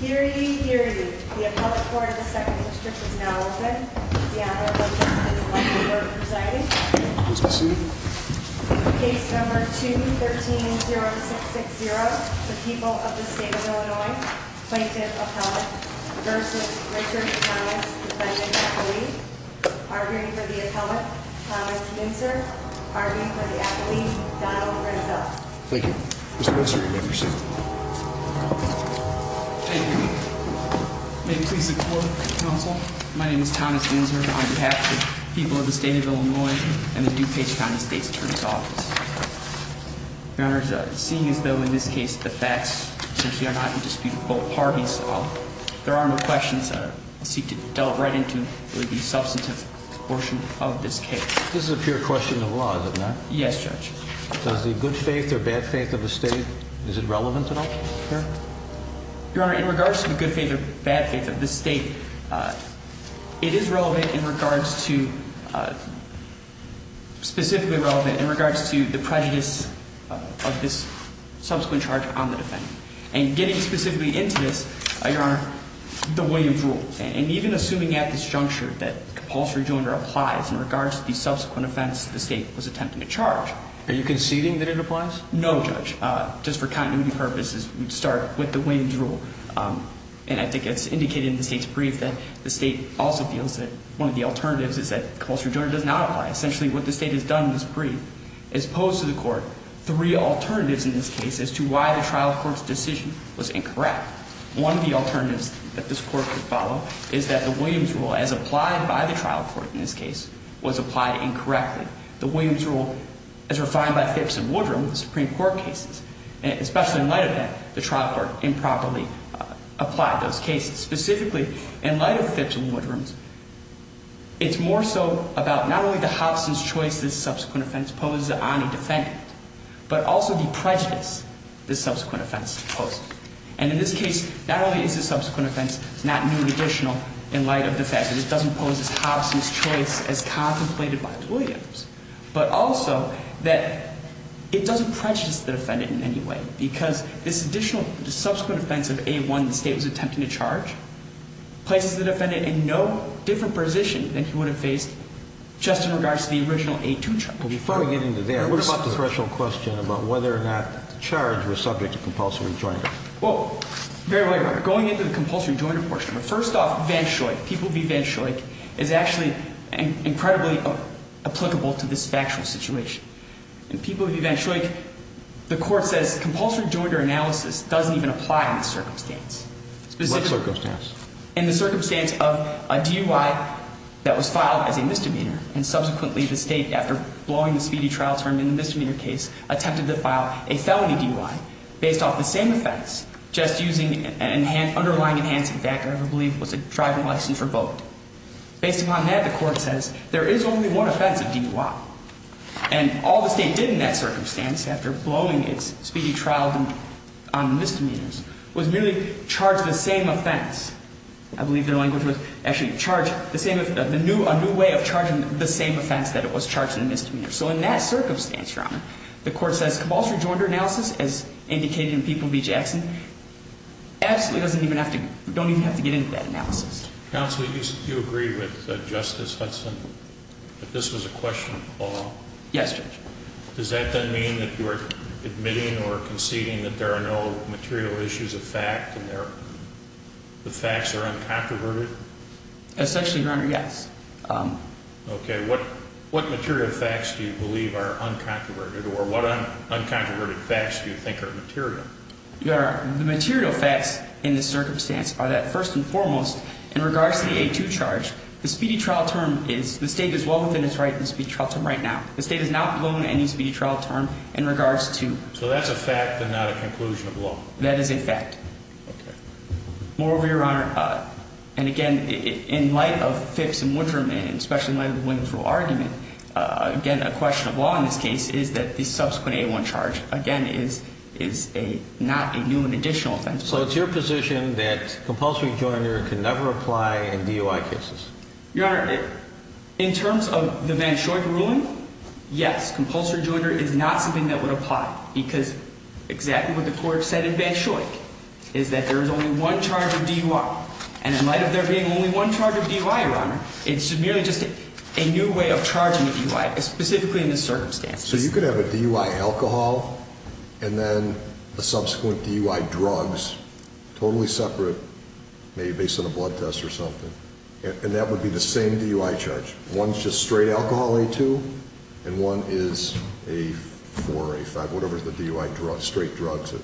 Hear ye, hear ye. The appellate court in the second district is now open. Deanna Lopez is elected for presiding. Case number 2130660, the people of the state of Illinois, plaintiff, appellate, versus Richard Thomas, defendant, appellee. Arguing for the appellate, Thomas Mincer. Arguing for the appellee, Donald Renzel. Thank you. May it please the court, counsel. My name is Thomas Mincer on behalf of the people of the state of Illinois and the DuPage County State's Attorney's Office. Your Honor, seeing as though in this case the facts are not to dispute both parties, there are no questions that seek to delve right into the substantive portion of this case. This is a pure question of law, is it not? Yes, Judge. Does the good faith or bad faith of the state, is it relevant at all here? Your Honor, in regards to the good faith or bad faith of the state, it is relevant in regards to, specifically relevant in regards to, the prejudice of this subsequent charge on the defendant. And getting specifically into this, Your Honor, the way you've ruled, and even assuming at this juncture that compulsory joinder applies in regards to the subsequent offense the state was attempting to charge. Are you conceding that it applies? No, Judge. Just for continuity purposes, we'd start with the Williams rule. And I think it's indicated in the state's brief that the state also feels that one of the alternatives is that compulsory joinder does not apply. Essentially what the state has done in this brief is pose to the court three alternatives in this case as to why the trial court's decision was incorrect. One of the alternatives that this court could follow is that the Williams rule, as applied by the trial court in this case, was applied incorrectly. The Williams rule, as refined by Phipps and Woodrum, the Supreme Court cases, especially in light of that, the trial court improperly applied those cases. Specifically, in light of Phipps and Woodrum's, it's more so about not only the Hobson's choice this subsequent offense posed to the only defendant, but also the prejudice this subsequent offense posed. And in this case, not only is this subsequent offense not new and additional in light of the fact that it doesn't pose as Hobson's choice as contemplated by the Williams, but also that it doesn't prejudice the defendant in any way because this additional subsequent offense of A1 the state was attempting to charge places the defendant in no different position than he would have faced just in regards to the original A2 charge. But before we get into that, what about the threshold question about whether or not the charge was subject to compulsory joinder? Well, very well, Your Honor. Going into the compulsory joinder portion. First off, Van Schoik, people v. Van Schoik, is actually incredibly applicable to this factual situation. In people v. Van Schoik, the court says compulsory joinder analysis doesn't even apply in this circumstance. What circumstance? In the circumstance of a DUI that was filed as a misdemeanor, and subsequently the state, after blowing the speedy trial term in the misdemeanor case, attempted to file a felony DUI based off the same offense, just using an underlying enhancing factor I believe was a driving license revoked. Based upon that, the court says there is only one offense of DUI. And all the state did in that circumstance, after blowing its speedy trial on misdemeanors, was merely charge the same offense. I believe their language was actually charge the new way of charging the same offense that it was charged in the misdemeanor. So in that circumstance, Your Honor, the court says compulsory joinder analysis, as indicated in people v. Jackson, absolutely doesn't even have to, don't even have to get into that analysis. Counsel, do you agree with Justice Hudson that this was a question of law? Yes, Judge. Does that then mean that you are admitting or conceding that there are no material issues of fact and the facts are uncontroverted? Essentially, Your Honor, yes. Okay. What material facts do you believe are uncontroverted or what uncontroverted facts do you think are material? Your Honor, the material facts in this circumstance are that, first and foremost, in regards to the A2 charge, the speedy trial term is, the state is well within its right in the speedy trial term right now. The state has not blown any speedy trial term in regards to. So that's a fact and not a conclusion of law? That is a fact. Okay. Moreover, Your Honor, and again, in light of Fix and Winterman, especially in light of the Wintersville argument, again, a question of law in this case is that the subsequent A1 charge, again, is not a new and additional offense. So it's your position that compulsory joiner can never apply in DUI cases? Your Honor, in terms of the Van Schoik ruling, yes, compulsory joiner is not something that would apply because exactly what the court said in Van Schoik is that there is only one charge of DUI. And in light of there being only one charge of DUI, Your Honor, it's merely just a new way of charging a DUI, specifically in this circumstance. So you could have a DUI alcohol and then a subsequent DUI drugs, totally separate, maybe based on a blood test or something, and that would be the same DUI charge. One is just straight alcohol, A2, and one is a 4, A5, whatever the DUI drug, straight drug is.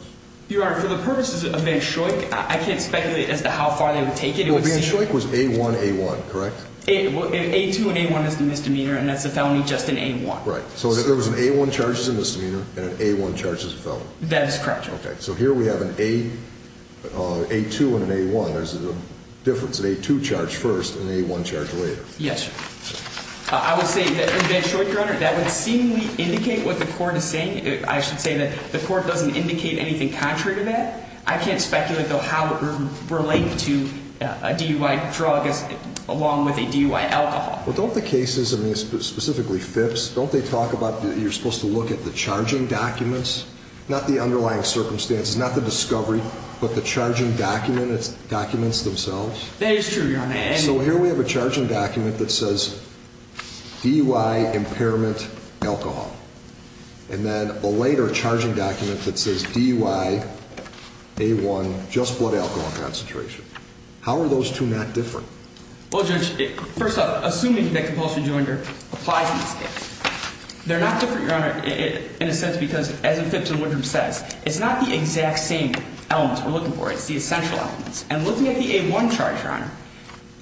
Your Honor, for the purposes of Van Schoik, I can't speculate as to how far they would take it. Van Schoik was A1, A1, correct? A2 and A1 is the misdemeanor, and that's a felony just in A1. Right. So there was an A1 charge as a misdemeanor and an A1 charge as a felony. That is correct, Your Honor. Okay. So here we have an A2 and an A1. There's a difference. An A2 charge first and an A1 charge later. Yes, sir. I would say that in Van Schoik, Your Honor, that would seemingly indicate what the court is saying. I should say that the court doesn't indicate anything contrary to that. I can't speculate, though, how it would relate to a DUI drug along with a DUI alcohol. Well, don't the cases, specifically FIPS, don't they talk about you're supposed to look at the charging documents, not the underlying circumstances, not the discovery, but the charging documents themselves? That is true, Your Honor. So here we have a charging document that says DUI impairment alcohol. And then a later charging document that says DUI, A1, just blood alcohol concentration. How are those two not different? Well, Judge, first off, assuming that compulsion to injure applies in this case, they're not different, Your Honor, in a sense because, as FIPS and Woodrum says, it's not the exact same elements we're looking for. It's the essential elements. And looking at the A1 charge, Your Honor,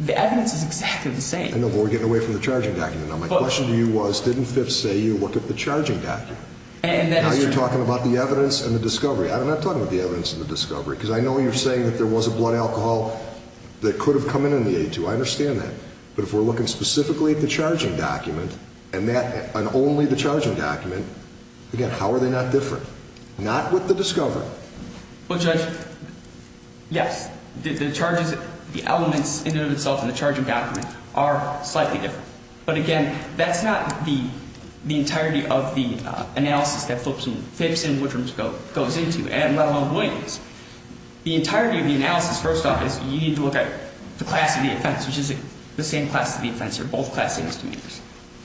the evidence is exactly the same. I know, but we're getting away from the charging document. Now, my question to you was, didn't FIPS say you look at the charging document? And that is true. Now you're talking about the evidence and the discovery. I'm not talking about the evidence and the discovery because I know you're saying that there was a blood alcohol that could have come in in the A2. I understand that. But if we're looking specifically at the charging document and only the charging document, again, how are they not different? Not with the discovery. Well, Judge, yes, the charges, the elements in and of themselves in the charging document are slightly different. But, again, that's not the entirety of the analysis that FIPS and Woodrum goes into, let alone Williams. The entirety of the analysis, first off, is you need to look at the class of the offense, which is the same class of the offense here, both class A misdemeanors.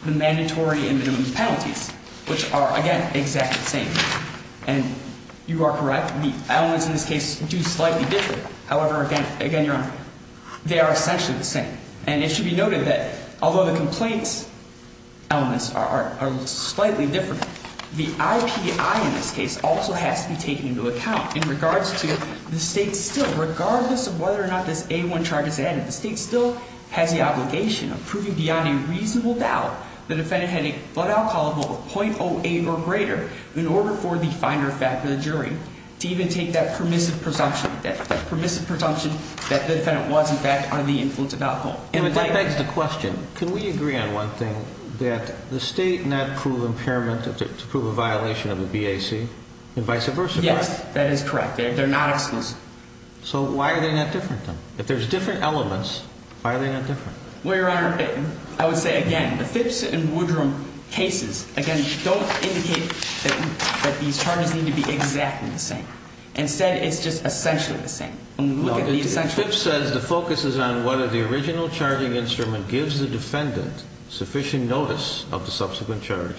The mandatory and minimum penalties, which are, again, exactly the same. And you are correct. The elements in this case do slightly differ. However, again, Your Honor, they are essentially the same. And it should be noted that although the complaints elements are slightly different, the IPI in this case also has to be taken into account in regards to the state still, regardless of whether or not this A1 charge is added, the state still has the obligation of proving beyond a reasonable doubt the defendant had a blood alcohol level of .08 or greater in order for the finder of fact or the jury to even take that permissive presumption, that the defendant was, in fact, under the influence of alcohol. And that begs the question, can we agree on one thing, that the state not prove impairment to prove a violation of the BAC and vice versa? Yes, that is correct. They're not exclusive. So why are they not different then? If there's different elements, why are they not different? Well, Your Honor, I would say, again, the FIPS and Woodrum cases, again, don't indicate that these charges need to be exactly the same. Instead, it's just essentially the same. Well, the FIPS says the focus is on whether the original charging instrument gives the defendant sufficient notice of the subsequent charge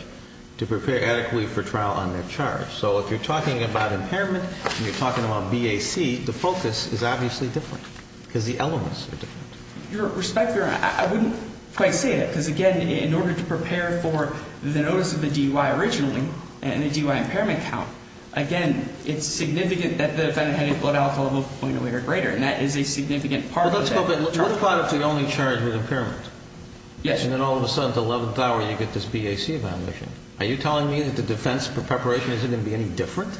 to prepare adequately for trial on their charge. So if you're talking about impairment and you're talking about BAC, the focus is obviously different because the elements are different. Your Honor, I wouldn't quite say that because, again, in order to prepare for the notice of the DUI originally and the DUI impairment count, again, it's significant that the defendant had a blood alcohol level 0.08 or greater, and that is a significant part of that charge. Well, let's go back. What if the only charge was impairment? Yes. And then all of a sudden at the 11th hour you get this BAC violation? Are you telling me that the defense for preparation isn't going to be any different?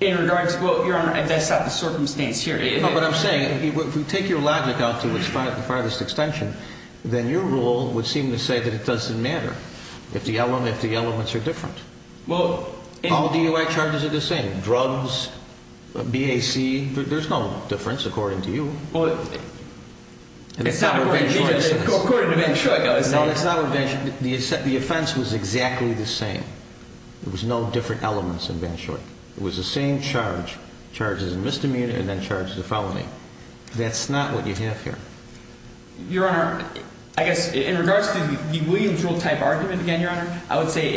In regards to, well, Your Honor, that's not the circumstance here. No, but I'm saying if we take your logic out to its farthest extension, then your rule would seem to say that it doesn't matter if the elements are different. All DUI charges are the same. Drugs, BAC, there's no difference according to you. Well, it's not according to me. According to Van Schoyk, I would say. No, it's not according to Van Schoyk. The offense was exactly the same. There was no different elements in Van Schoyk. It was the same charge, charges of misdemeanor and then charges of felony. That's not what you have here. I would say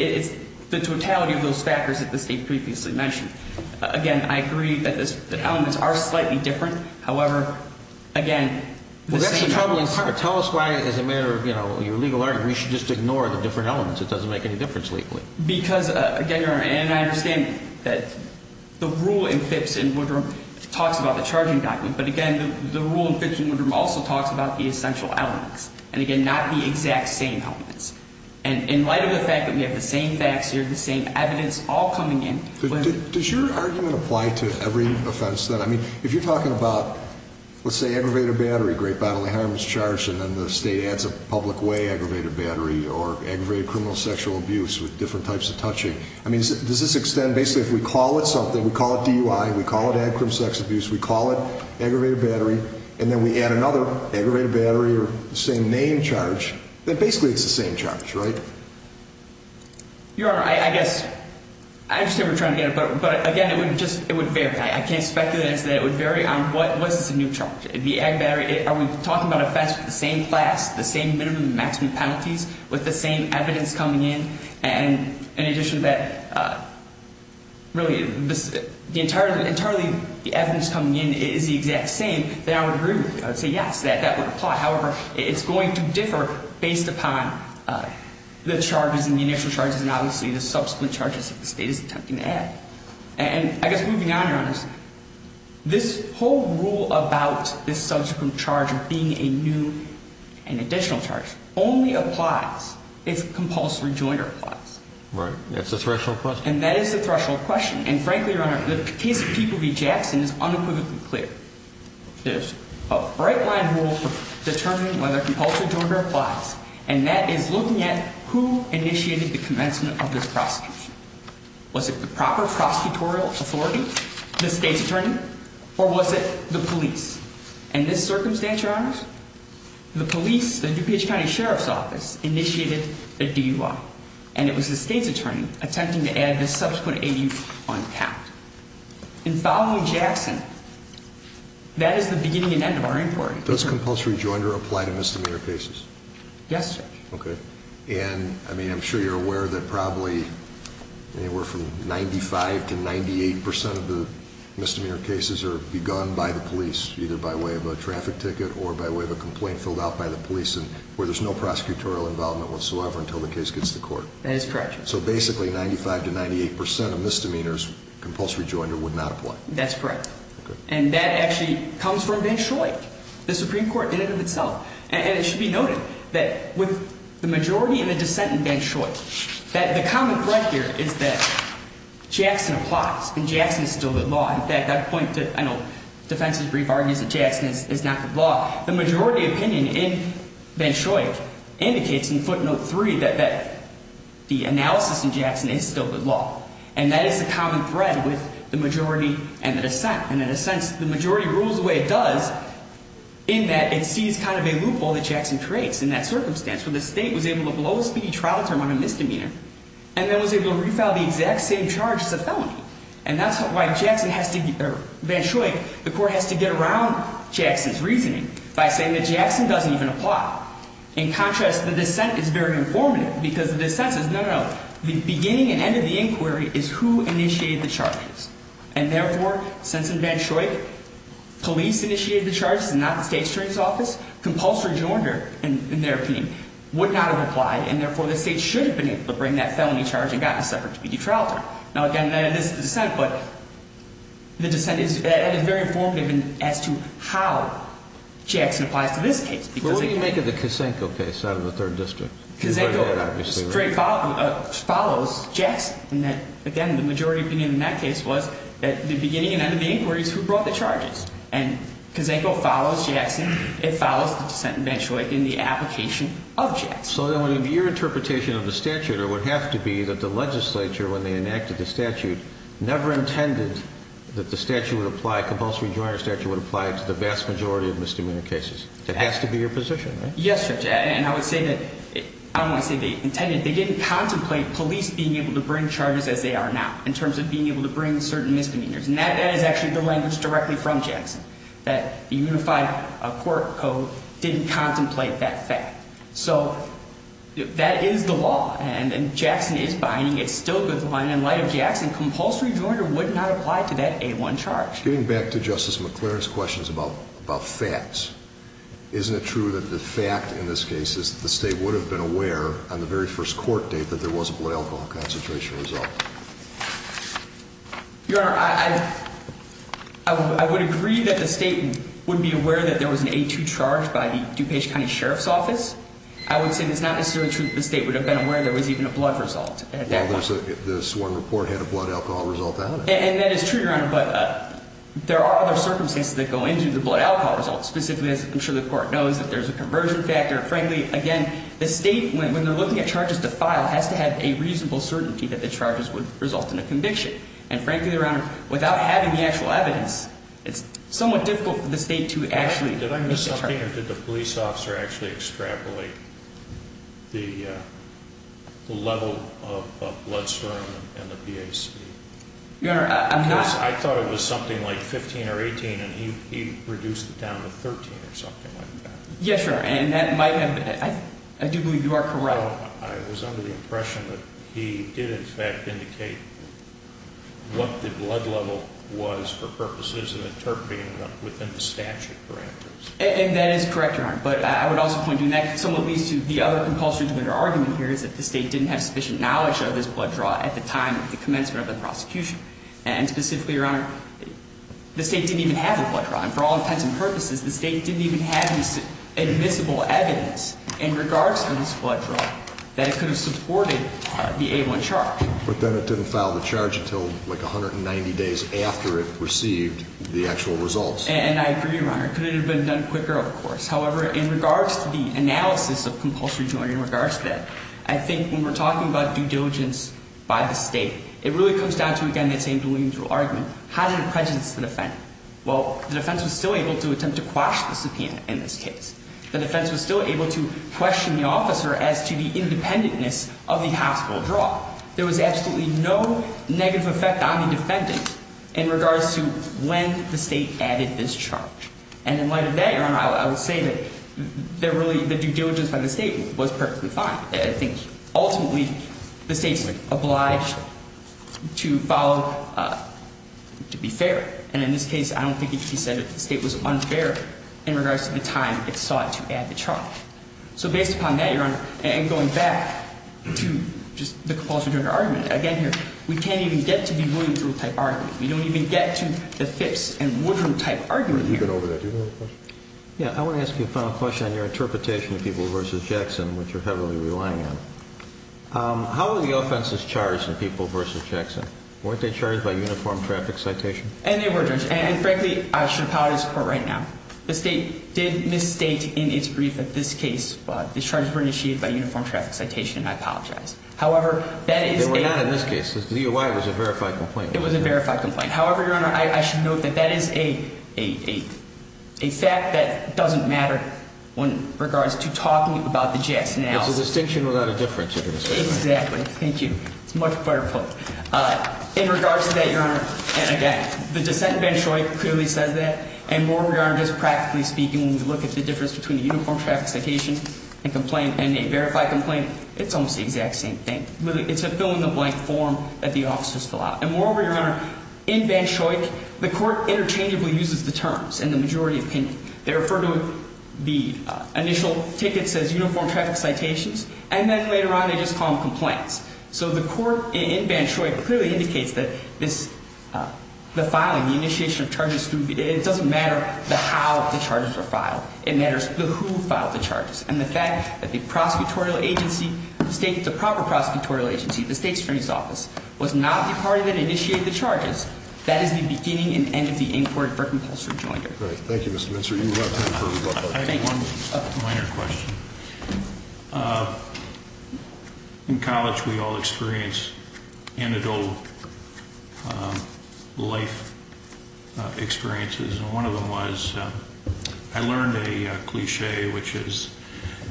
it's the totality of those factors that the State previously mentioned. Again, I agree that the elements are slightly different. However, again, the same elements. Well, that's the troubling part. Tell us why as a matter of, you know, your legal argument you should just ignore the different elements. It doesn't make any difference legally. Because, again, Your Honor, and I understand that the rule in Phipps and Woodrum talks about the charging document. But, again, the rule in Phipps and Woodrum also talks about the essential elements. And, again, not the exact same elements. And in light of the fact that we have the same facts here, the same evidence all coming in. Does your argument apply to every offense then? I mean, if you're talking about, let's say, aggravated battery, great bodily harm is charged, and then the State adds a public way aggravated battery or aggravated criminal sexual abuse with different types of touching. I mean, does this extend basically if we call it something, we call it DUI, we call it aggravated sex abuse, we call it aggravated battery, and then we add another aggravated battery or the same name charge, then basically it's the same charge, right? Your Honor, I guess, I understand what you're trying to get at. But, again, it would just, it would vary. I can't speculate as to whether it would vary on what is the new charge. The aggravated battery, are we talking about offense with the same class, the same minimum and maximum penalties, with the same evidence coming in? And in addition to that, really, the entirely evidence coming in is the exact same, then I would agree with you. I would say yes, that would apply. However, it's going to differ based upon the charges and the initial charges and obviously the subsequent charges that the State is attempting to add. And I guess moving on, Your Honor, this whole rule about this subsequent charge being a new and additional charge only applies if compulsory jointer applies. Right, that's the threshold question. And that is the threshold question. And frankly, Your Honor, the case of People v. Jackson is unequivocally clear. There's a bright-line rule for determining whether compulsory jointer applies, and that is looking at who initiated the commencement of this prosecution. Was it the proper prosecutorial authority, the State's attorney, or was it the police? In this circumstance, Your Honor, the police, the DuPage County Sheriff's Office, initiated a DUI, and it was the State's attorney attempting to add this subsequent AU on the count. And following Jackson, that is the beginning and end of our inquiry. Does compulsory jointer apply to misdemeanor cases? Yes, Judge. Okay. And, I mean, I'm sure you're aware that probably anywhere from 95% to 98% of the misdemeanor cases are begun by the police, either by way of a traffic ticket or by way of a complaint filled out by the police where there's no prosecutorial involvement whatsoever until the case gets to court. That is correct, Judge. So basically 95% to 98% of misdemeanors, compulsory jointer would not apply. That's correct. Okay. And that actually comes from Van Schoyck. The Supreme Court did it in itself. And it should be noted that with the majority of the dissent in Van Schoyck, the comment right there is that Jackson applies, and Jackson is still the law. In fact, I'd point to, I know, defense's brief argues that Jackson is not the law. The majority opinion in Van Schoyck indicates in footnote 3 that the analysis in Jackson is still the law. And that is the common thread with the majority and the dissent. And in a sense, the majority rules the way it does in that it sees kind of a loophole that Jackson creates in that circumstance where the state was able to blow a speedy trial term on a misdemeanor and then was able to refile the exact same charge as a felony. And that's why Van Schoyck, the court has to get around Jackson's reasoning by saying that Jackson doesn't even apply. In contrast, the dissent is very informative because the dissent says, no, no, no, the beginning and end of the inquiry is who initiated the charges. And therefore, since in Van Schoyck police initiated the charges and not the state attorney's office, compulsory jointer, in their opinion, would not have applied, and therefore the state should have been able to bring that felony charge and gotten a separate speedy trial term. Now, again, that is the dissent, but the dissent is very informative as to how Jackson applies to this case. Well, what do you make of the Kosenko case out of the third district? Kosenko straight follows Jackson in that, again, the majority opinion in that case was that the beginning and end of the inquiry is who brought the charges. And Kosenko follows Jackson. It follows the dissent in Van Schoyck in the application of Jackson. So then your interpretation of the statute would have to be that the legislature, when they enacted the statute, never intended that the statute would apply, compulsory jointer statute would apply to the vast majority of misdemeanor cases. That has to be your position, right? Yes, Judge. And I would say that they didn't contemplate police being able to bring charges as they are now in terms of being able to bring certain misdemeanors. And that is actually the language directly from Jackson, that the unified court code didn't contemplate that fact. So that is the law, and Jackson is binding. It's still good to bind. In light of Jackson, compulsory jointer would not apply to that A-1 charge. Getting back to Justice McClaren's questions about facts, isn't it true that the fact in this case is that the state would have been aware on the very first court date that there was a blood alcohol concentration result? Your Honor, I would agree that the state would be aware that there was an A-2 charge by the DuPage County Sheriff's Office. I would say that it's not necessarily true that the state would have been aware there was even a blood result at that point. Well, this one report had a blood alcohol result out of it. And that is true, Your Honor, but there are other circumstances that go into the blood alcohol result, specifically, as I'm sure the court knows, that there's a conversion factor. Frankly, again, the state, when they're looking at charges to file, has to have a reasonable certainty that the charges would result in a conviction. And frankly, Your Honor, without having the actual evidence, it's somewhat difficult for the state to actually Did I miss something, or did the police officer actually extrapolate the level of bloodstorm and the PAC? Your Honor, I'm not I thought it was something like 15 or 18, and he reduced it down to 13 or something like that. Yes, Your Honor, and I do believe you are correct. So, I was under the impression that he did, in fact, indicate what the blood level was for purposes of interpreting within the statute parameters. And that is correct, Your Honor. But I would also point you, and that somewhat leads to the other compulsory to enter argument here, is that the state didn't have sufficient knowledge of this blood draw at the time of the commencement of the prosecution. And specifically, Your Honor, the state didn't even have the blood draw. And for all intents and purposes, the state didn't even have any admissible evidence in regards to this blood draw that it could have supported the A1 charge. But then it didn't file the charge until, like, 190 days after it received the actual results. And I agree, Your Honor. It couldn't have been done quicker, of course. However, in regards to the analysis of compulsory to enter, in regards to that, I think when we're talking about due diligence by the state, it really comes down to, again, that same delusional argument. How did it prejudice the defendant? Well, the defense was still able to attempt to quash the subpoena in this case. The defense was still able to question the officer as to the independentness of the hospital draw. There was absolutely no negative effect on the defendant in regards to when the state added this charge. And in light of that, Your Honor, I would say that really the due diligence by the state was perfectly fine. I think ultimately the state's obliged to follow, to be fair. And in this case, I don't think it could be said that the state was unfair in regards to the time it sought to add the charge. So based upon that, Your Honor, and going back to just the compulsory to enter argument, again here, we can't even get to the Williams rule type argument. We don't even get to the Phipps and Woodrow type argument here. You can go over there. Do you have a question? Yeah. I want to ask you a final question on your interpretation of people versus Jackson, which you're heavily relying on. How were the offenses charged in people versus Jackson? Weren't they charged by uniform traffic citation? And they were, Judge. And frankly, I should apologize for it right now. The state did misstate in its brief that this case the charges were initiated by uniform traffic citation, and I apologize. However, that is a- They were not in this case. The OI was a verified complaint. It was a verified complaint. However, Your Honor, I should note that that is a fact that doesn't matter in regards to talking about the Jackson analysis. It's a distinction without a difference, if you'll excuse me. Exactly. Thank you. It's much better put. In regards to that, Your Honor, and again, the dissent in Banshoik clearly says that. And moreover, Your Honor, just practically speaking, when we look at the difference between a uniform traffic citation and complaint and a verified complaint, it's almost the exact same thing. Really, it's a fill-in-the-blank form that the officers fill out. And moreover, Your Honor, in Banshoik, the court interchangeably uses the terms in the majority opinion. They refer to the initial tickets as uniform traffic citations, and then later on they just call them complaints. So the court in Banshoik clearly indicates that the filing, the initiation of charges, it doesn't matter how the charges are filed. It matters who filed the charges. And the fact that the prosecutorial agency, the state, the proper prosecutorial agency, the state attorney's office, was not the party that initiated the charges, that is the beginning and end of the inquiry for compulsory joinery. Thank you, Mr. Minster. You have time for a rebuttal. I have one minor question. In college, we all experience anecdotal life experiences. And one of them was I learned a cliché, which is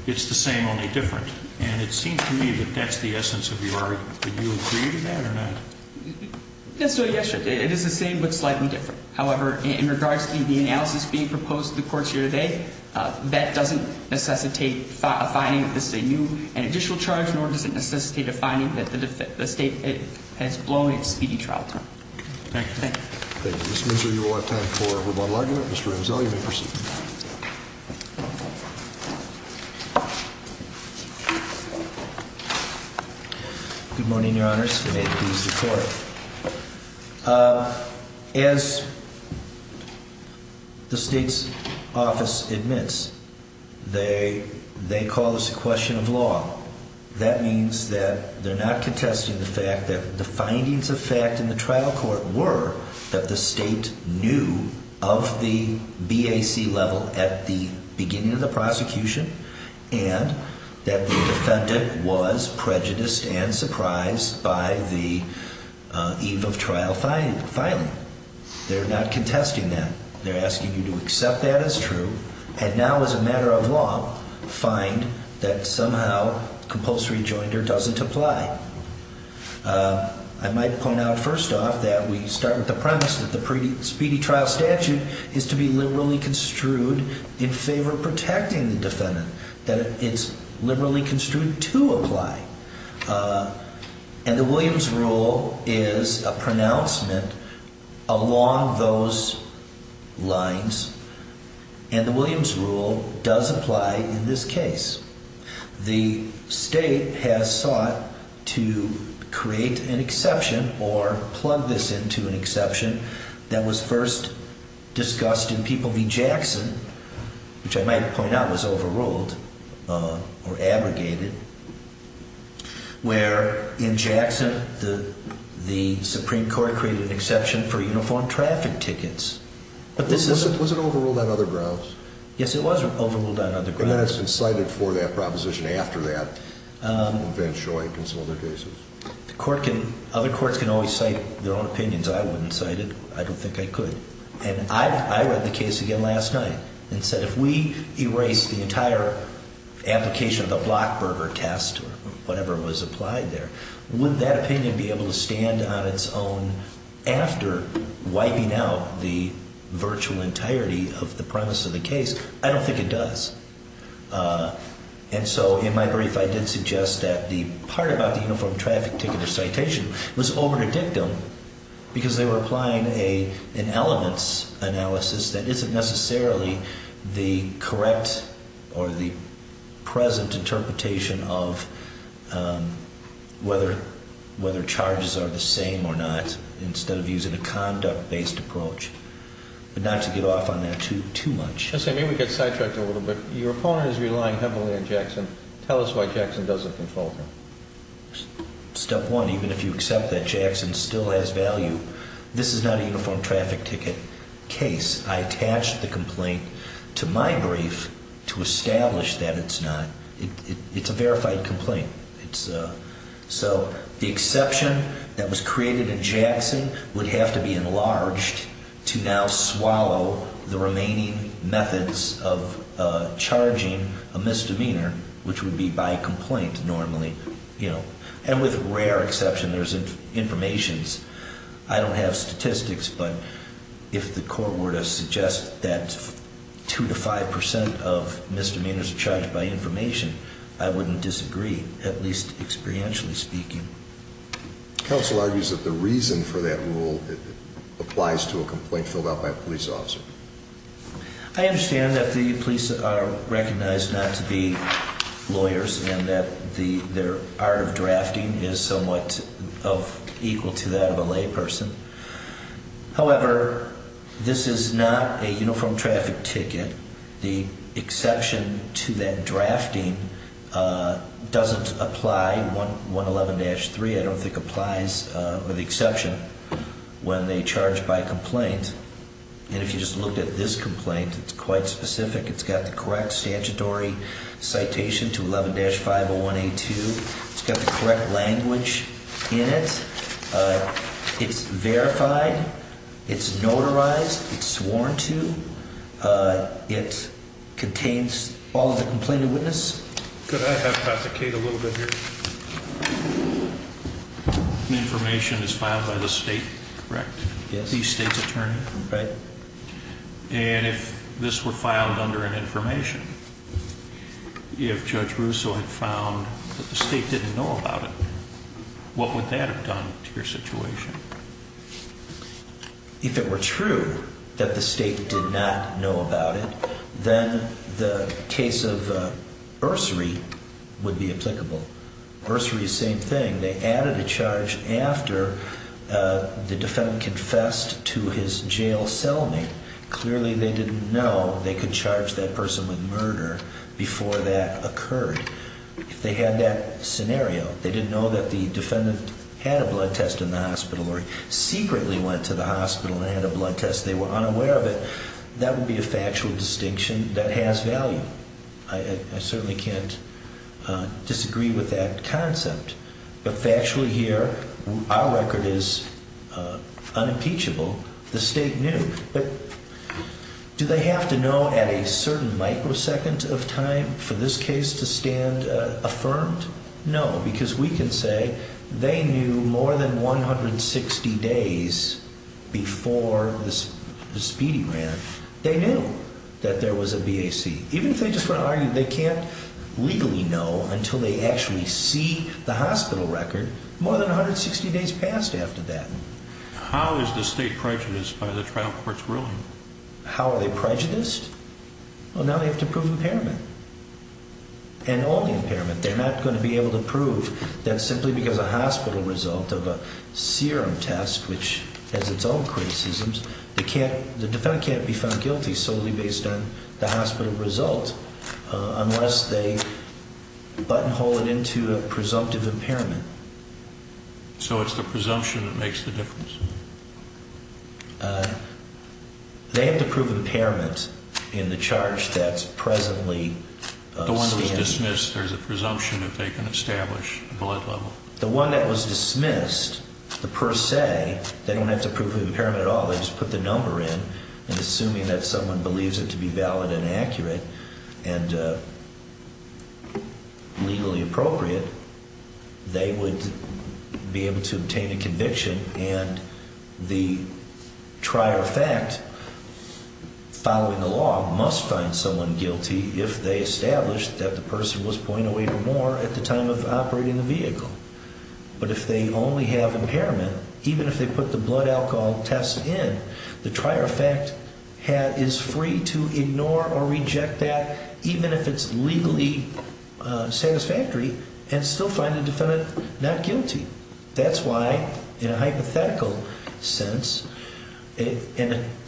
it's the same, only different. And it seems to me that that's the essence of your argument. Would you agree to that or not? Yes, Your Honor. It is the same but slightly different. However, in regards to the analysis being proposed to the courts here today, that doesn't necessitate a finding that this is a new and additional charge, nor does it necessitate a finding that the state has blown its speedy trial time. Thank you. Thank you. Mr. Minster, you will have time for a rebuttal argument. Mr. Renzel, you may proceed. May it please the Court. As the state's office admits, they call this a question of law. That means that they're not contesting the fact that the findings of fact in the trial court were that the state knew of the BAC level at the beginning of the prosecution and that the defendant was prejudiced and surprised by the eve of trial filing. They're not contesting that. They're asking you to accept that as true and now, as a matter of law, find that somehow compulsory joinder doesn't apply. I might point out first off that we start with the premise that the speedy trial statute is to be liberally construed in favor of protecting the defendant, that it's liberally construed to apply. And the Williams rule is a pronouncement along those lines, and the Williams rule does apply in this case. The state has sought to create an exception or plug this into an exception that was first discussed in People v. Jackson, which I might point out was overruled or abrogated, where in Jackson the Supreme Court created an exception for uniformed traffic tickets. Was it overruled on other grounds? Yes, it was overruled on other grounds. And then it's been cited for that proposition after that in Van Schoyk and some other cases. Other courts can always cite their own opinions. I wouldn't cite it. I don't think I could. And I read the case again last night and said if we erase the entire application of the Blockberger test or whatever was applied there, would that opinion be able to stand on its own after wiping out the virtual entirety of the premise of the case? I don't think it does. And so in my brief I did suggest that the part about the uniformed traffic ticket or citation was over the dictum because they were applying an elements analysis that isn't necessarily the correct or the present interpretation of whether charges are the same or not instead of using a conduct-based approach, but not to get off on that too much. Let's say maybe we get sidetracked a little bit. Your opponent is relying heavily on Jackson. Tell us why Jackson doesn't control him. Step one, even if you accept that Jackson still has value, this is not a uniformed traffic ticket case. I attached the complaint to my brief to establish that it's not. It's a verified complaint. So the exception that was created in Jackson would have to be enlarged to now swallow the remaining methods of charging a misdemeanor, which would be by complaint normally. And with rare exception, there's information. I don't have statistics, but if the court were to suggest that two to five percent of misdemeanors are charged by information, I wouldn't disagree, at least experientially speaking. Counsel argues that the reason for that rule applies to a complaint filled out by a police officer. I understand that the police are recognized not to be lawyers and that their art of drafting is somewhat equal to that of a layperson. However, this is not a uniformed traffic ticket. The exception to that drafting doesn't apply. 111-3, I don't think, applies with the exception when they charge by complaint. And if you just look at this complaint, it's quite specific. It's got the correct statutory citation to 11-501A2. It's got the correct language in it. It's verified. It's notarized. It's sworn to. It contains all of the complainant witness. Could I hypothecate a little bit here? The information is filed by the state, correct? Yes. The state's attorney? Right. And if this were filed under an information, if Judge Russo had found that the state didn't know about it, what would that have done to your situation? If it were true that the state did not know about it, then the case of Ursary would be applicable. Ursary, same thing. When they added a charge after the defendant confessed to his jail cellmate, clearly they didn't know they could charge that person with murder before that occurred. If they had that scenario, they didn't know that the defendant had a blood test in the hospital or secretly went to the hospital and had a blood test, they were unaware of it, that would be a factual distinction that has value. I certainly can't disagree with that concept. But factually here, our record is unimpeachable. The state knew. But do they have to know at a certain microsecond of time for this case to stand affirmed? No, because we can say they knew more than 160 days before the speedy ran. They knew that there was a BAC. Even if they just want to argue they can't legally know until they actually see the hospital record, more than 160 days passed after that. How is the state prejudiced by the trial court's ruling? How are they prejudiced? Well, now they have to prove impairment and all the impairment. They're not going to be able to prove that simply because a hospital result of a serum test, which has its own criticisms. The defendant can't be found guilty solely based on the hospital result unless they buttonhole it into a presumptive impairment. So it's the presumption that makes the difference? They have to prove impairment in the charge that's presently standing. The one that was dismissed, there's a presumption that they can establish a blood level. The one that was dismissed, the per se, they don't have to prove impairment at all. They just put the number in. And assuming that someone believes it to be valid and accurate and legally appropriate, they would be able to obtain a conviction. And the trier of fact, following the law, must find someone guilty if they establish that the person was 0.08 or more at the time of operating the vehicle. But if they only have impairment, even if they put the blood alcohol test in, the trier of fact is free to ignore or reject that even if it's legally satisfactory and still find the defendant not guilty. That's why, in a hypothetical sense, a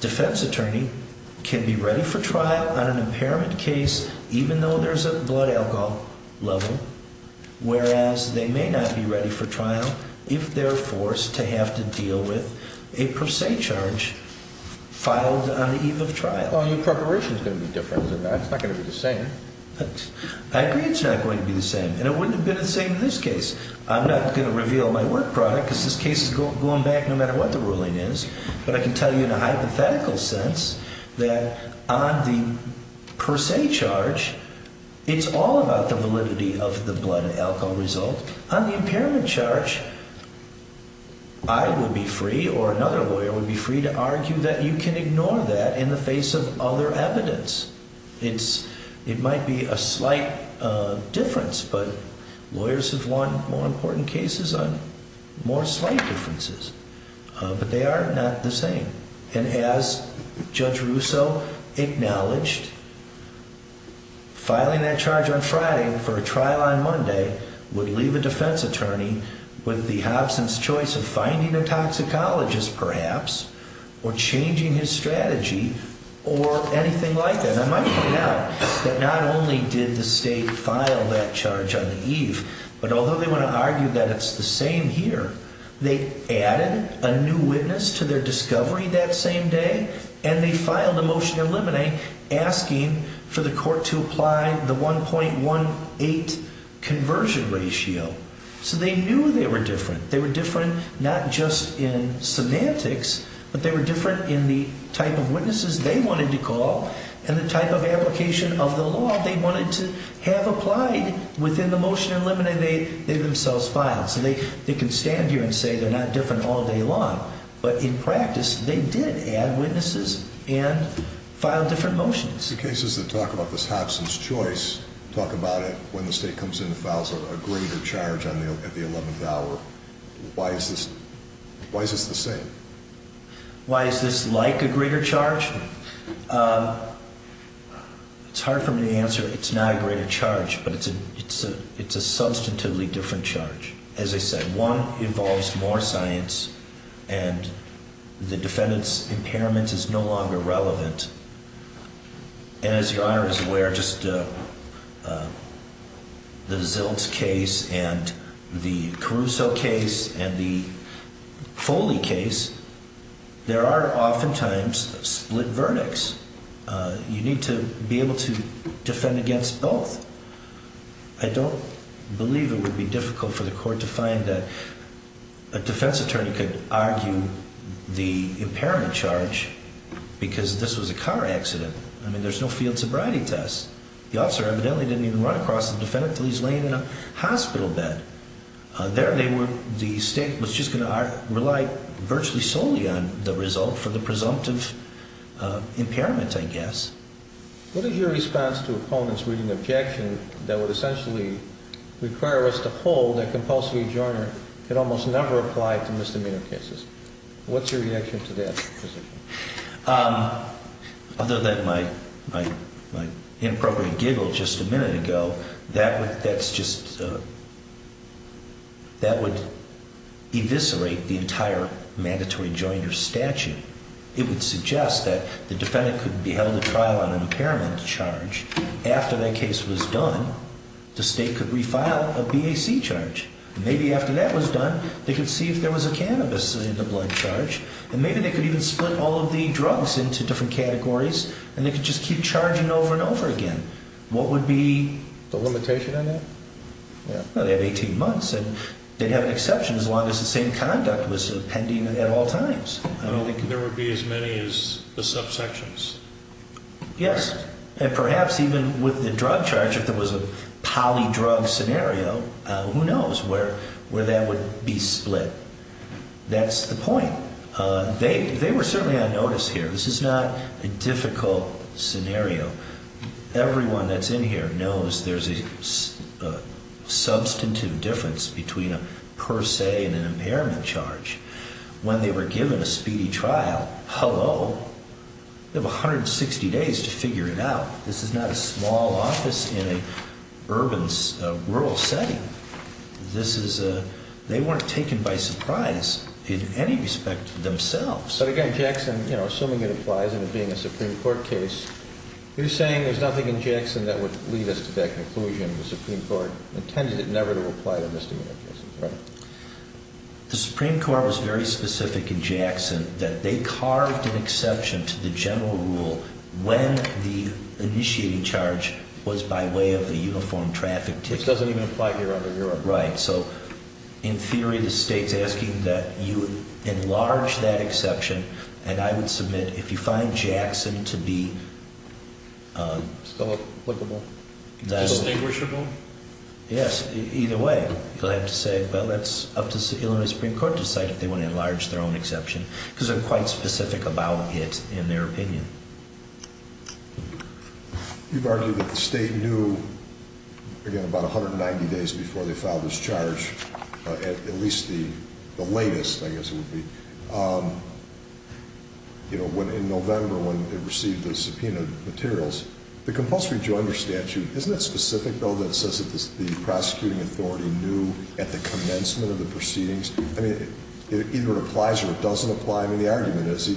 defense attorney can be ready for trial on an impairment case even though there's a blood alcohol level, whereas they may not be ready for trial if they're forced to have to deal with a per se charge filed on the eve of trial. Well, your preparation's going to be different. It's not going to be the same. I agree it's not going to be the same. And it wouldn't have been the same in this case. I'm not going to reveal my work product because this case is going back no matter what the ruling is. But I can tell you in a hypothetical sense that on the per se charge, it's all about the validity of the blood alcohol result. On the impairment charge, I would be free or another lawyer would be free to argue that you can ignore that in the face of other evidence. It might be a slight difference, but lawyers have won more important cases on more slight differences. But they are not the same. And as Judge Russo acknowledged, filing that charge on Friday for a trial on Monday would leave a defense attorney with the Hobson's choice of finding a toxicologist perhaps or changing his strategy or anything like that. And I might point out that not only did the state file that charge on the eve, but although they want to argue that it's the same here, they added a new witness to their discovery that same day and they filed a motion to eliminate asking for the court to apply the 1.18 conversion ratio. So they knew they were different. They were different not just in semantics, but they were different in the type of witnesses they wanted to call and the type of application of the law they wanted to have applied within the motion eliminating they themselves filed. So they can stand here and say they're not different all day long. But in practice, they did add witnesses and filed different motions. The cases that talk about this Hobson's choice talk about it when the state comes in and files a greater charge at the 11th hour. Why is this the same? Why is this like a greater charge? It's hard for me to answer. It's not a greater charge, but it's a substantively different charge. It's a substantively different charge. As I said, one involves more science and the defendant's impairment is no longer relevant. As your honor is aware, just the Zilch case and the Caruso case and the Foley case. There are oftentimes split verdicts. You need to be able to defend against both. I don't believe it would be difficult for the court to find that a defense attorney could argue the impairment charge because this was a car accident. I mean, there's no field sobriety test. The officer evidently didn't even run across the defendant until he's laying in a hospital bed. The state was just going to rely virtually solely on the result for the presumptive impairment, I guess. What is your response to opponents reading the objection that would essentially require us to hold that Compulsory Adjournment could almost never apply to misdemeanor cases? What's your reaction to that position? Other than my inappropriate giggle just a minute ago, that would eviscerate the entire mandatory joinder statute. It would suggest that the defendant could be held at trial on an impairment charge. After that case was done, the state could refile a BAC charge. Maybe after that was done, they could see if there was a cannabis in the blood charge. And maybe they could even split all of the drugs into different categories, and they could just keep charging over and over again. What would be the limitation on that? Well, they have 18 months, and they'd have an exception as long as the same conduct was pending at all times. There would be as many as the subsections. Yes. And perhaps even with the drug charge, if there was a poly-drug scenario, who knows where that would be split. That's the point. They were certainly on notice here. This is not a difficult scenario. Everyone that's in here knows there's a substantive difference between a per se and an impairment charge. When they were given a speedy trial, hello, they have 160 days to figure it out. This is not a small office in an urban, rural setting. They weren't taken by surprise in any respect themselves. But again, Jackson, assuming it applies and it being a Supreme Court case, you're saying there's nothing in Jackson that would lead us to that conclusion. The Supreme Court intended it never to apply to misdemeanor cases, right? The Supreme Court was very specific in Jackson that they carved an exception to the general rule when the initiating charge was by way of a uniform traffic ticket. Which doesn't even apply here under Europe. Right. So in theory, the state's asking that you enlarge that exception, and I would submit if you find Jackson to be... Still applicable? Distinguishable? Yes. Either way, you'll have to say, well, that's up to Illinois Supreme Court to decide if they want to enlarge their own exception. Because they're quite specific about it in their opinion. You've argued that the state knew, again, about 190 days before they filed this charge, at least the latest, I guess it would be, in November when it received the subpoenaed materials. The compulsory joinder statute, isn't that specific, though, that says that the prosecuting authority knew at the commencement of the proceedings? I mean, either it applies or it doesn't apply. I mean, the argument is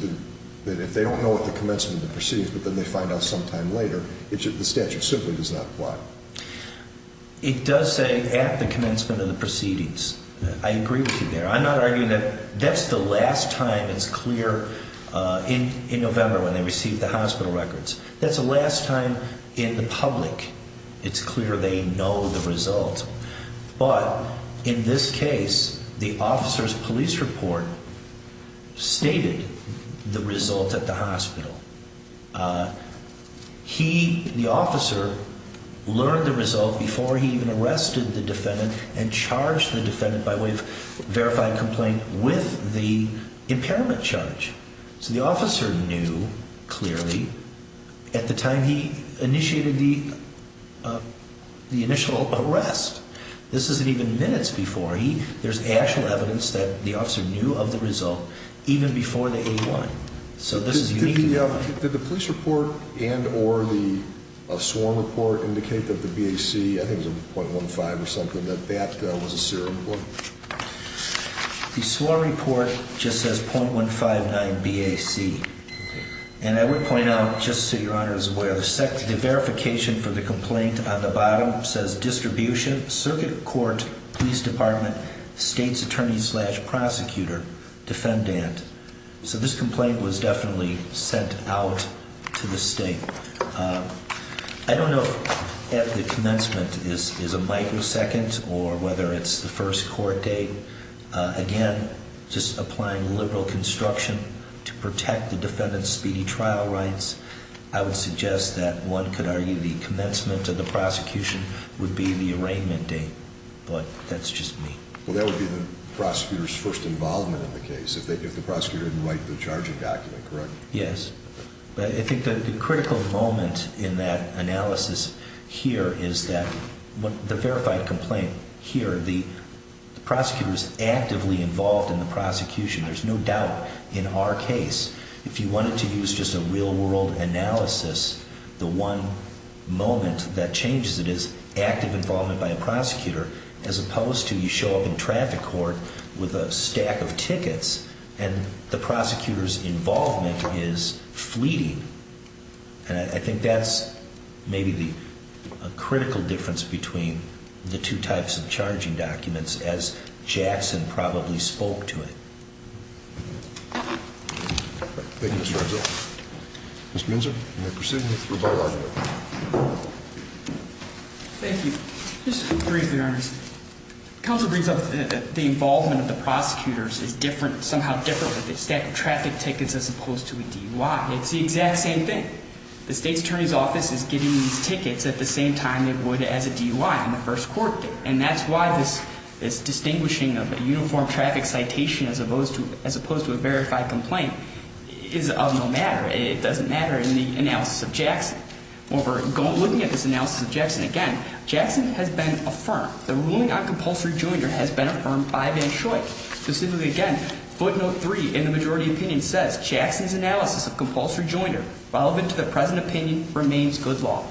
that if they don't know at the commencement of the proceedings, but then they find out sometime later, the statute simply does not apply. It does say at the commencement of the proceedings. I agree with you there. I'm not arguing that that's the last time it's clear in November when they received the hospital records. That's the last time in the public it's clear they know the result. But in this case, the officer's police report stated the result at the hospital. He, the officer, learned the result before he even arrested the defendant and charged the defendant by way of verified complaint with the impairment charge. So the officer knew, clearly, at the time he initiated the initial arrest. This isn't even minutes before. There's actual evidence that the officer knew of the result even before the A1. So this is unique to that one. Did the police report and or the sworn report indicate that the BAC, I think it was a .15 or something, that that was a serial report? The sworn report just says .159 BAC. And I would point out, just so Your Honor is aware, the verification for the complaint on the bottom says distribution, circuit court, police department, state's attorney slash prosecutor, defendant. So this complaint was definitely sent out to the state. I don't know if the commencement is a microsecond or whether it's the first court date. Again, just applying liberal construction to protect the defendant's speedy trial rights. I would suggest that one could argue the commencement of the prosecution would be the arraignment date. But that's just me. Well, that would be the prosecutor's first involvement in the case if the prosecutor didn't write the charging document, correct? Yes. I think the critical moment in that analysis here is that the verified complaint here, the prosecutor's actively involved in the prosecution. There's no doubt in our case if you wanted to use just a real-world analysis, the one moment that changes it is active involvement by a prosecutor as opposed to you show up in traffic court with a stack of tickets. And the prosecutor's involvement is fleeting. And I think that's maybe the critical difference between the two types of charging documents as Jackson probably spoke to it. Thank you, Mr. Argyle. Mr. Minzer, you may proceed with rebuttal argument. Thank you. Just briefly, Your Honor. Counsel brings up the involvement of the prosecutors is somehow different with a stack of traffic tickets as opposed to a DUI. It's the exact same thing. The State's Attorney's Office is getting these tickets at the same time it would as a DUI on the first court date. And that's why this distinguishing of a uniform traffic citation as opposed to a verified complaint is of no matter. When we're looking at this analysis of Jackson, again, Jackson has been affirmed. The ruling on compulsory joinder has been affirmed by Van Schoik. Specifically, again, footnote three in the majority opinion says Jackson's analysis of compulsory joinder relevant to the present opinion remains good law.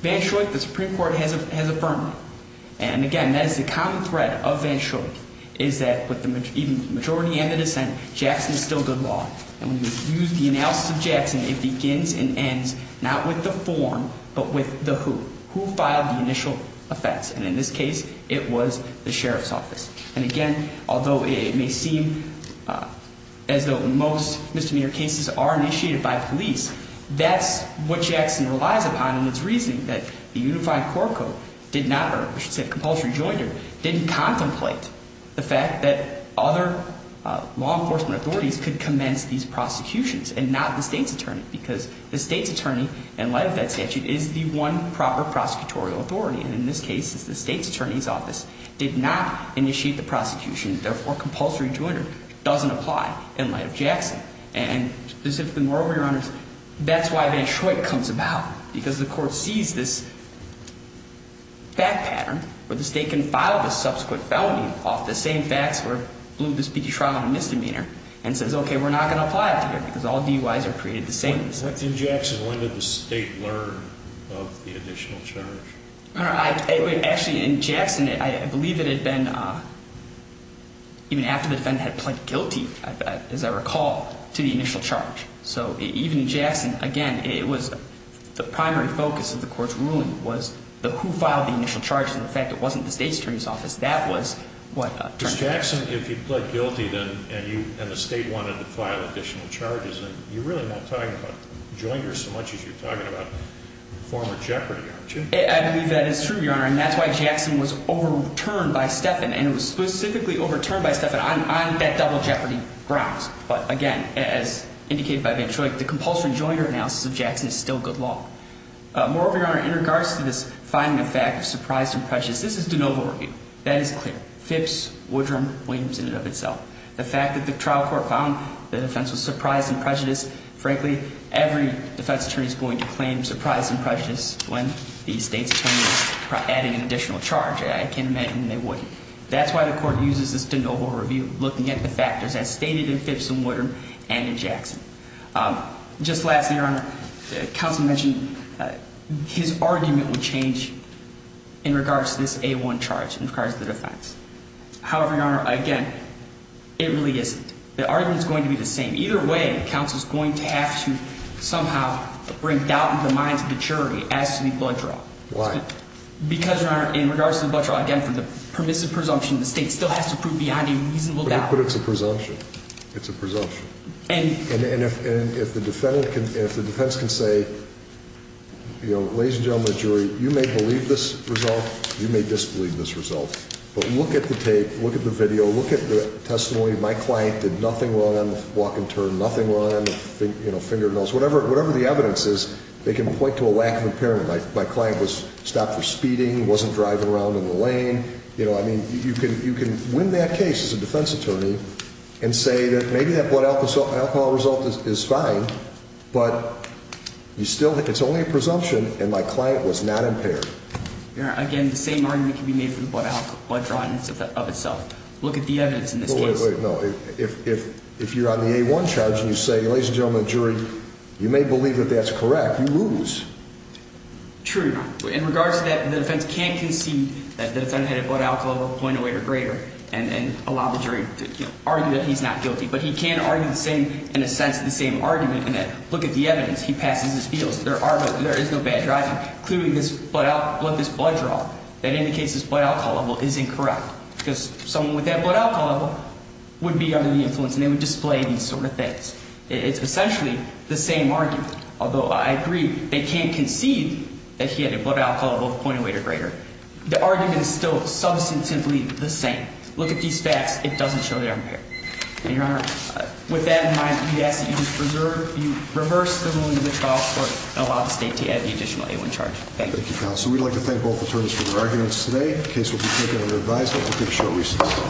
Van Schoik, the Supreme Court has affirmed. And, again, that is the common thread of Van Schoik is that with the majority and the dissent, Jackson is still good law. And when you use the analysis of Jackson, it begins and ends not with the form but with the who. Who filed the initial offense? And in this case, it was the Sheriff's Office. And, again, although it may seem as though most misdemeanor cases are initiated by police, that's what Jackson relies upon in its reasoning that the unified court code did not, or I should say compulsory joinder, didn't contemplate the fact that other law enforcement authorities could commence these prosecutions and not the state's attorney. Because the state's attorney, in light of that statute, is the one proper prosecutorial authority. And in this case, it's the state's attorney's office did not initiate the prosecution. Therefore, compulsory joinder doesn't apply in light of Jackson. And, specifically, moreover, Your Honors, that's why Van Schoik comes about. Because the court sees this fact pattern where the state can file the subsequent felony off the same facts where it blew the speedy trial on a misdemeanor and says, okay, we're not going to apply it to you because all DUIs are created the same. What did Jackson, when did the state learn of the additional charge? Actually, in Jackson, I believe it had been even after the defendant had pled guilty, as I recall, to the initial charge. So even in Jackson, again, it was the primary focus of the court's ruling was who filed the initial charges. In fact, it wasn't the state's attorney's office. That was what turned it in. Because Jackson, if you pled guilty and the state wanted to file additional charges, then you really weren't talking about joinders so much as you're talking about former jeopardy, aren't you? I believe that is true, Your Honor. And that's why Jackson was overturned by Stephan. And it was specifically overturned by Stephan on that double jeopardy grounds. But, again, as indicated by Van Schoik, the compulsory joinder analysis of Jackson is still good law. Moreover, Your Honor, in regards to this finding of fact of surprise and prejudice, this is de novo review. That is clear. FIPS, Woodrum, Williams in and of itself. The fact that the trial court found the defense was surprised and prejudiced, frankly, every defense attorney is going to claim surprise and prejudice when the state's attorney is adding an additional charge. I can't imagine they wouldn't. That's why the court uses this de novo review looking at the factors as stated in FIPS and Woodrum and in Jackson. Just lastly, Your Honor, counsel mentioned his argument would change in regards to this A1 charge in regards to the defense. However, Your Honor, again, it really isn't. The argument is going to be the same. Either way, counsel is going to have to somehow bring doubt into the minds of the jury as to the blood draw. Why? Because, Your Honor, in regards to the blood draw, again, for the permissive presumption, the state still has to prove beyond a reasonable doubt. But it's a presumption. It's a presumption. And if the defense can say, you know, ladies and gentlemen of the jury, you may believe this result, you may disbelieve this result. But look at the tape. Look at the video. Look at the testimony. My client did nothing wrong on the walk and turn, nothing wrong on the, you know, fingernails. Whatever the evidence is, they can point to a lack of impairment. My client was stopped for speeding, wasn't driving around in the lane. You know, I mean, you can win that case as a defense attorney and say that maybe that blood alcohol result is fine. But you still think it's only a presumption and my client was not impaired. Your Honor, again, the same argument can be made for the blood draw in and of itself. Look at the evidence in this case. Wait, wait, no. If you're on the A-1 charge and you say, ladies and gentlemen of the jury, you may believe that that's correct, you lose. True. In regards to that, the defense can't concede that the defendant had a blood alcohol level 0.08 or greater and allow the jury to argue that he's not guilty. But he can argue the same, in a sense, the same argument in that look at the evidence. He passes his feels. There is no bad driving, including this blood draw. That indicates his blood alcohol level is incorrect because someone with that blood alcohol level would be under the influence and they would display these sort of things. It's essentially the same argument, although I agree they can't concede that he had a blood alcohol level 0.08 or greater. The argument is still substantively the same. Look at these facts. It doesn't show that I'm impaired. And, Your Honor, with that in mind, we ask that you just preserve, you reverse the ruling of the trial court and allow the state to add the additional A-1 charge. Thank you. Thank you, counsel. We'd like to thank both attorneys for their arguments today. The case will be taken under revised. I hope you'll take a short recess.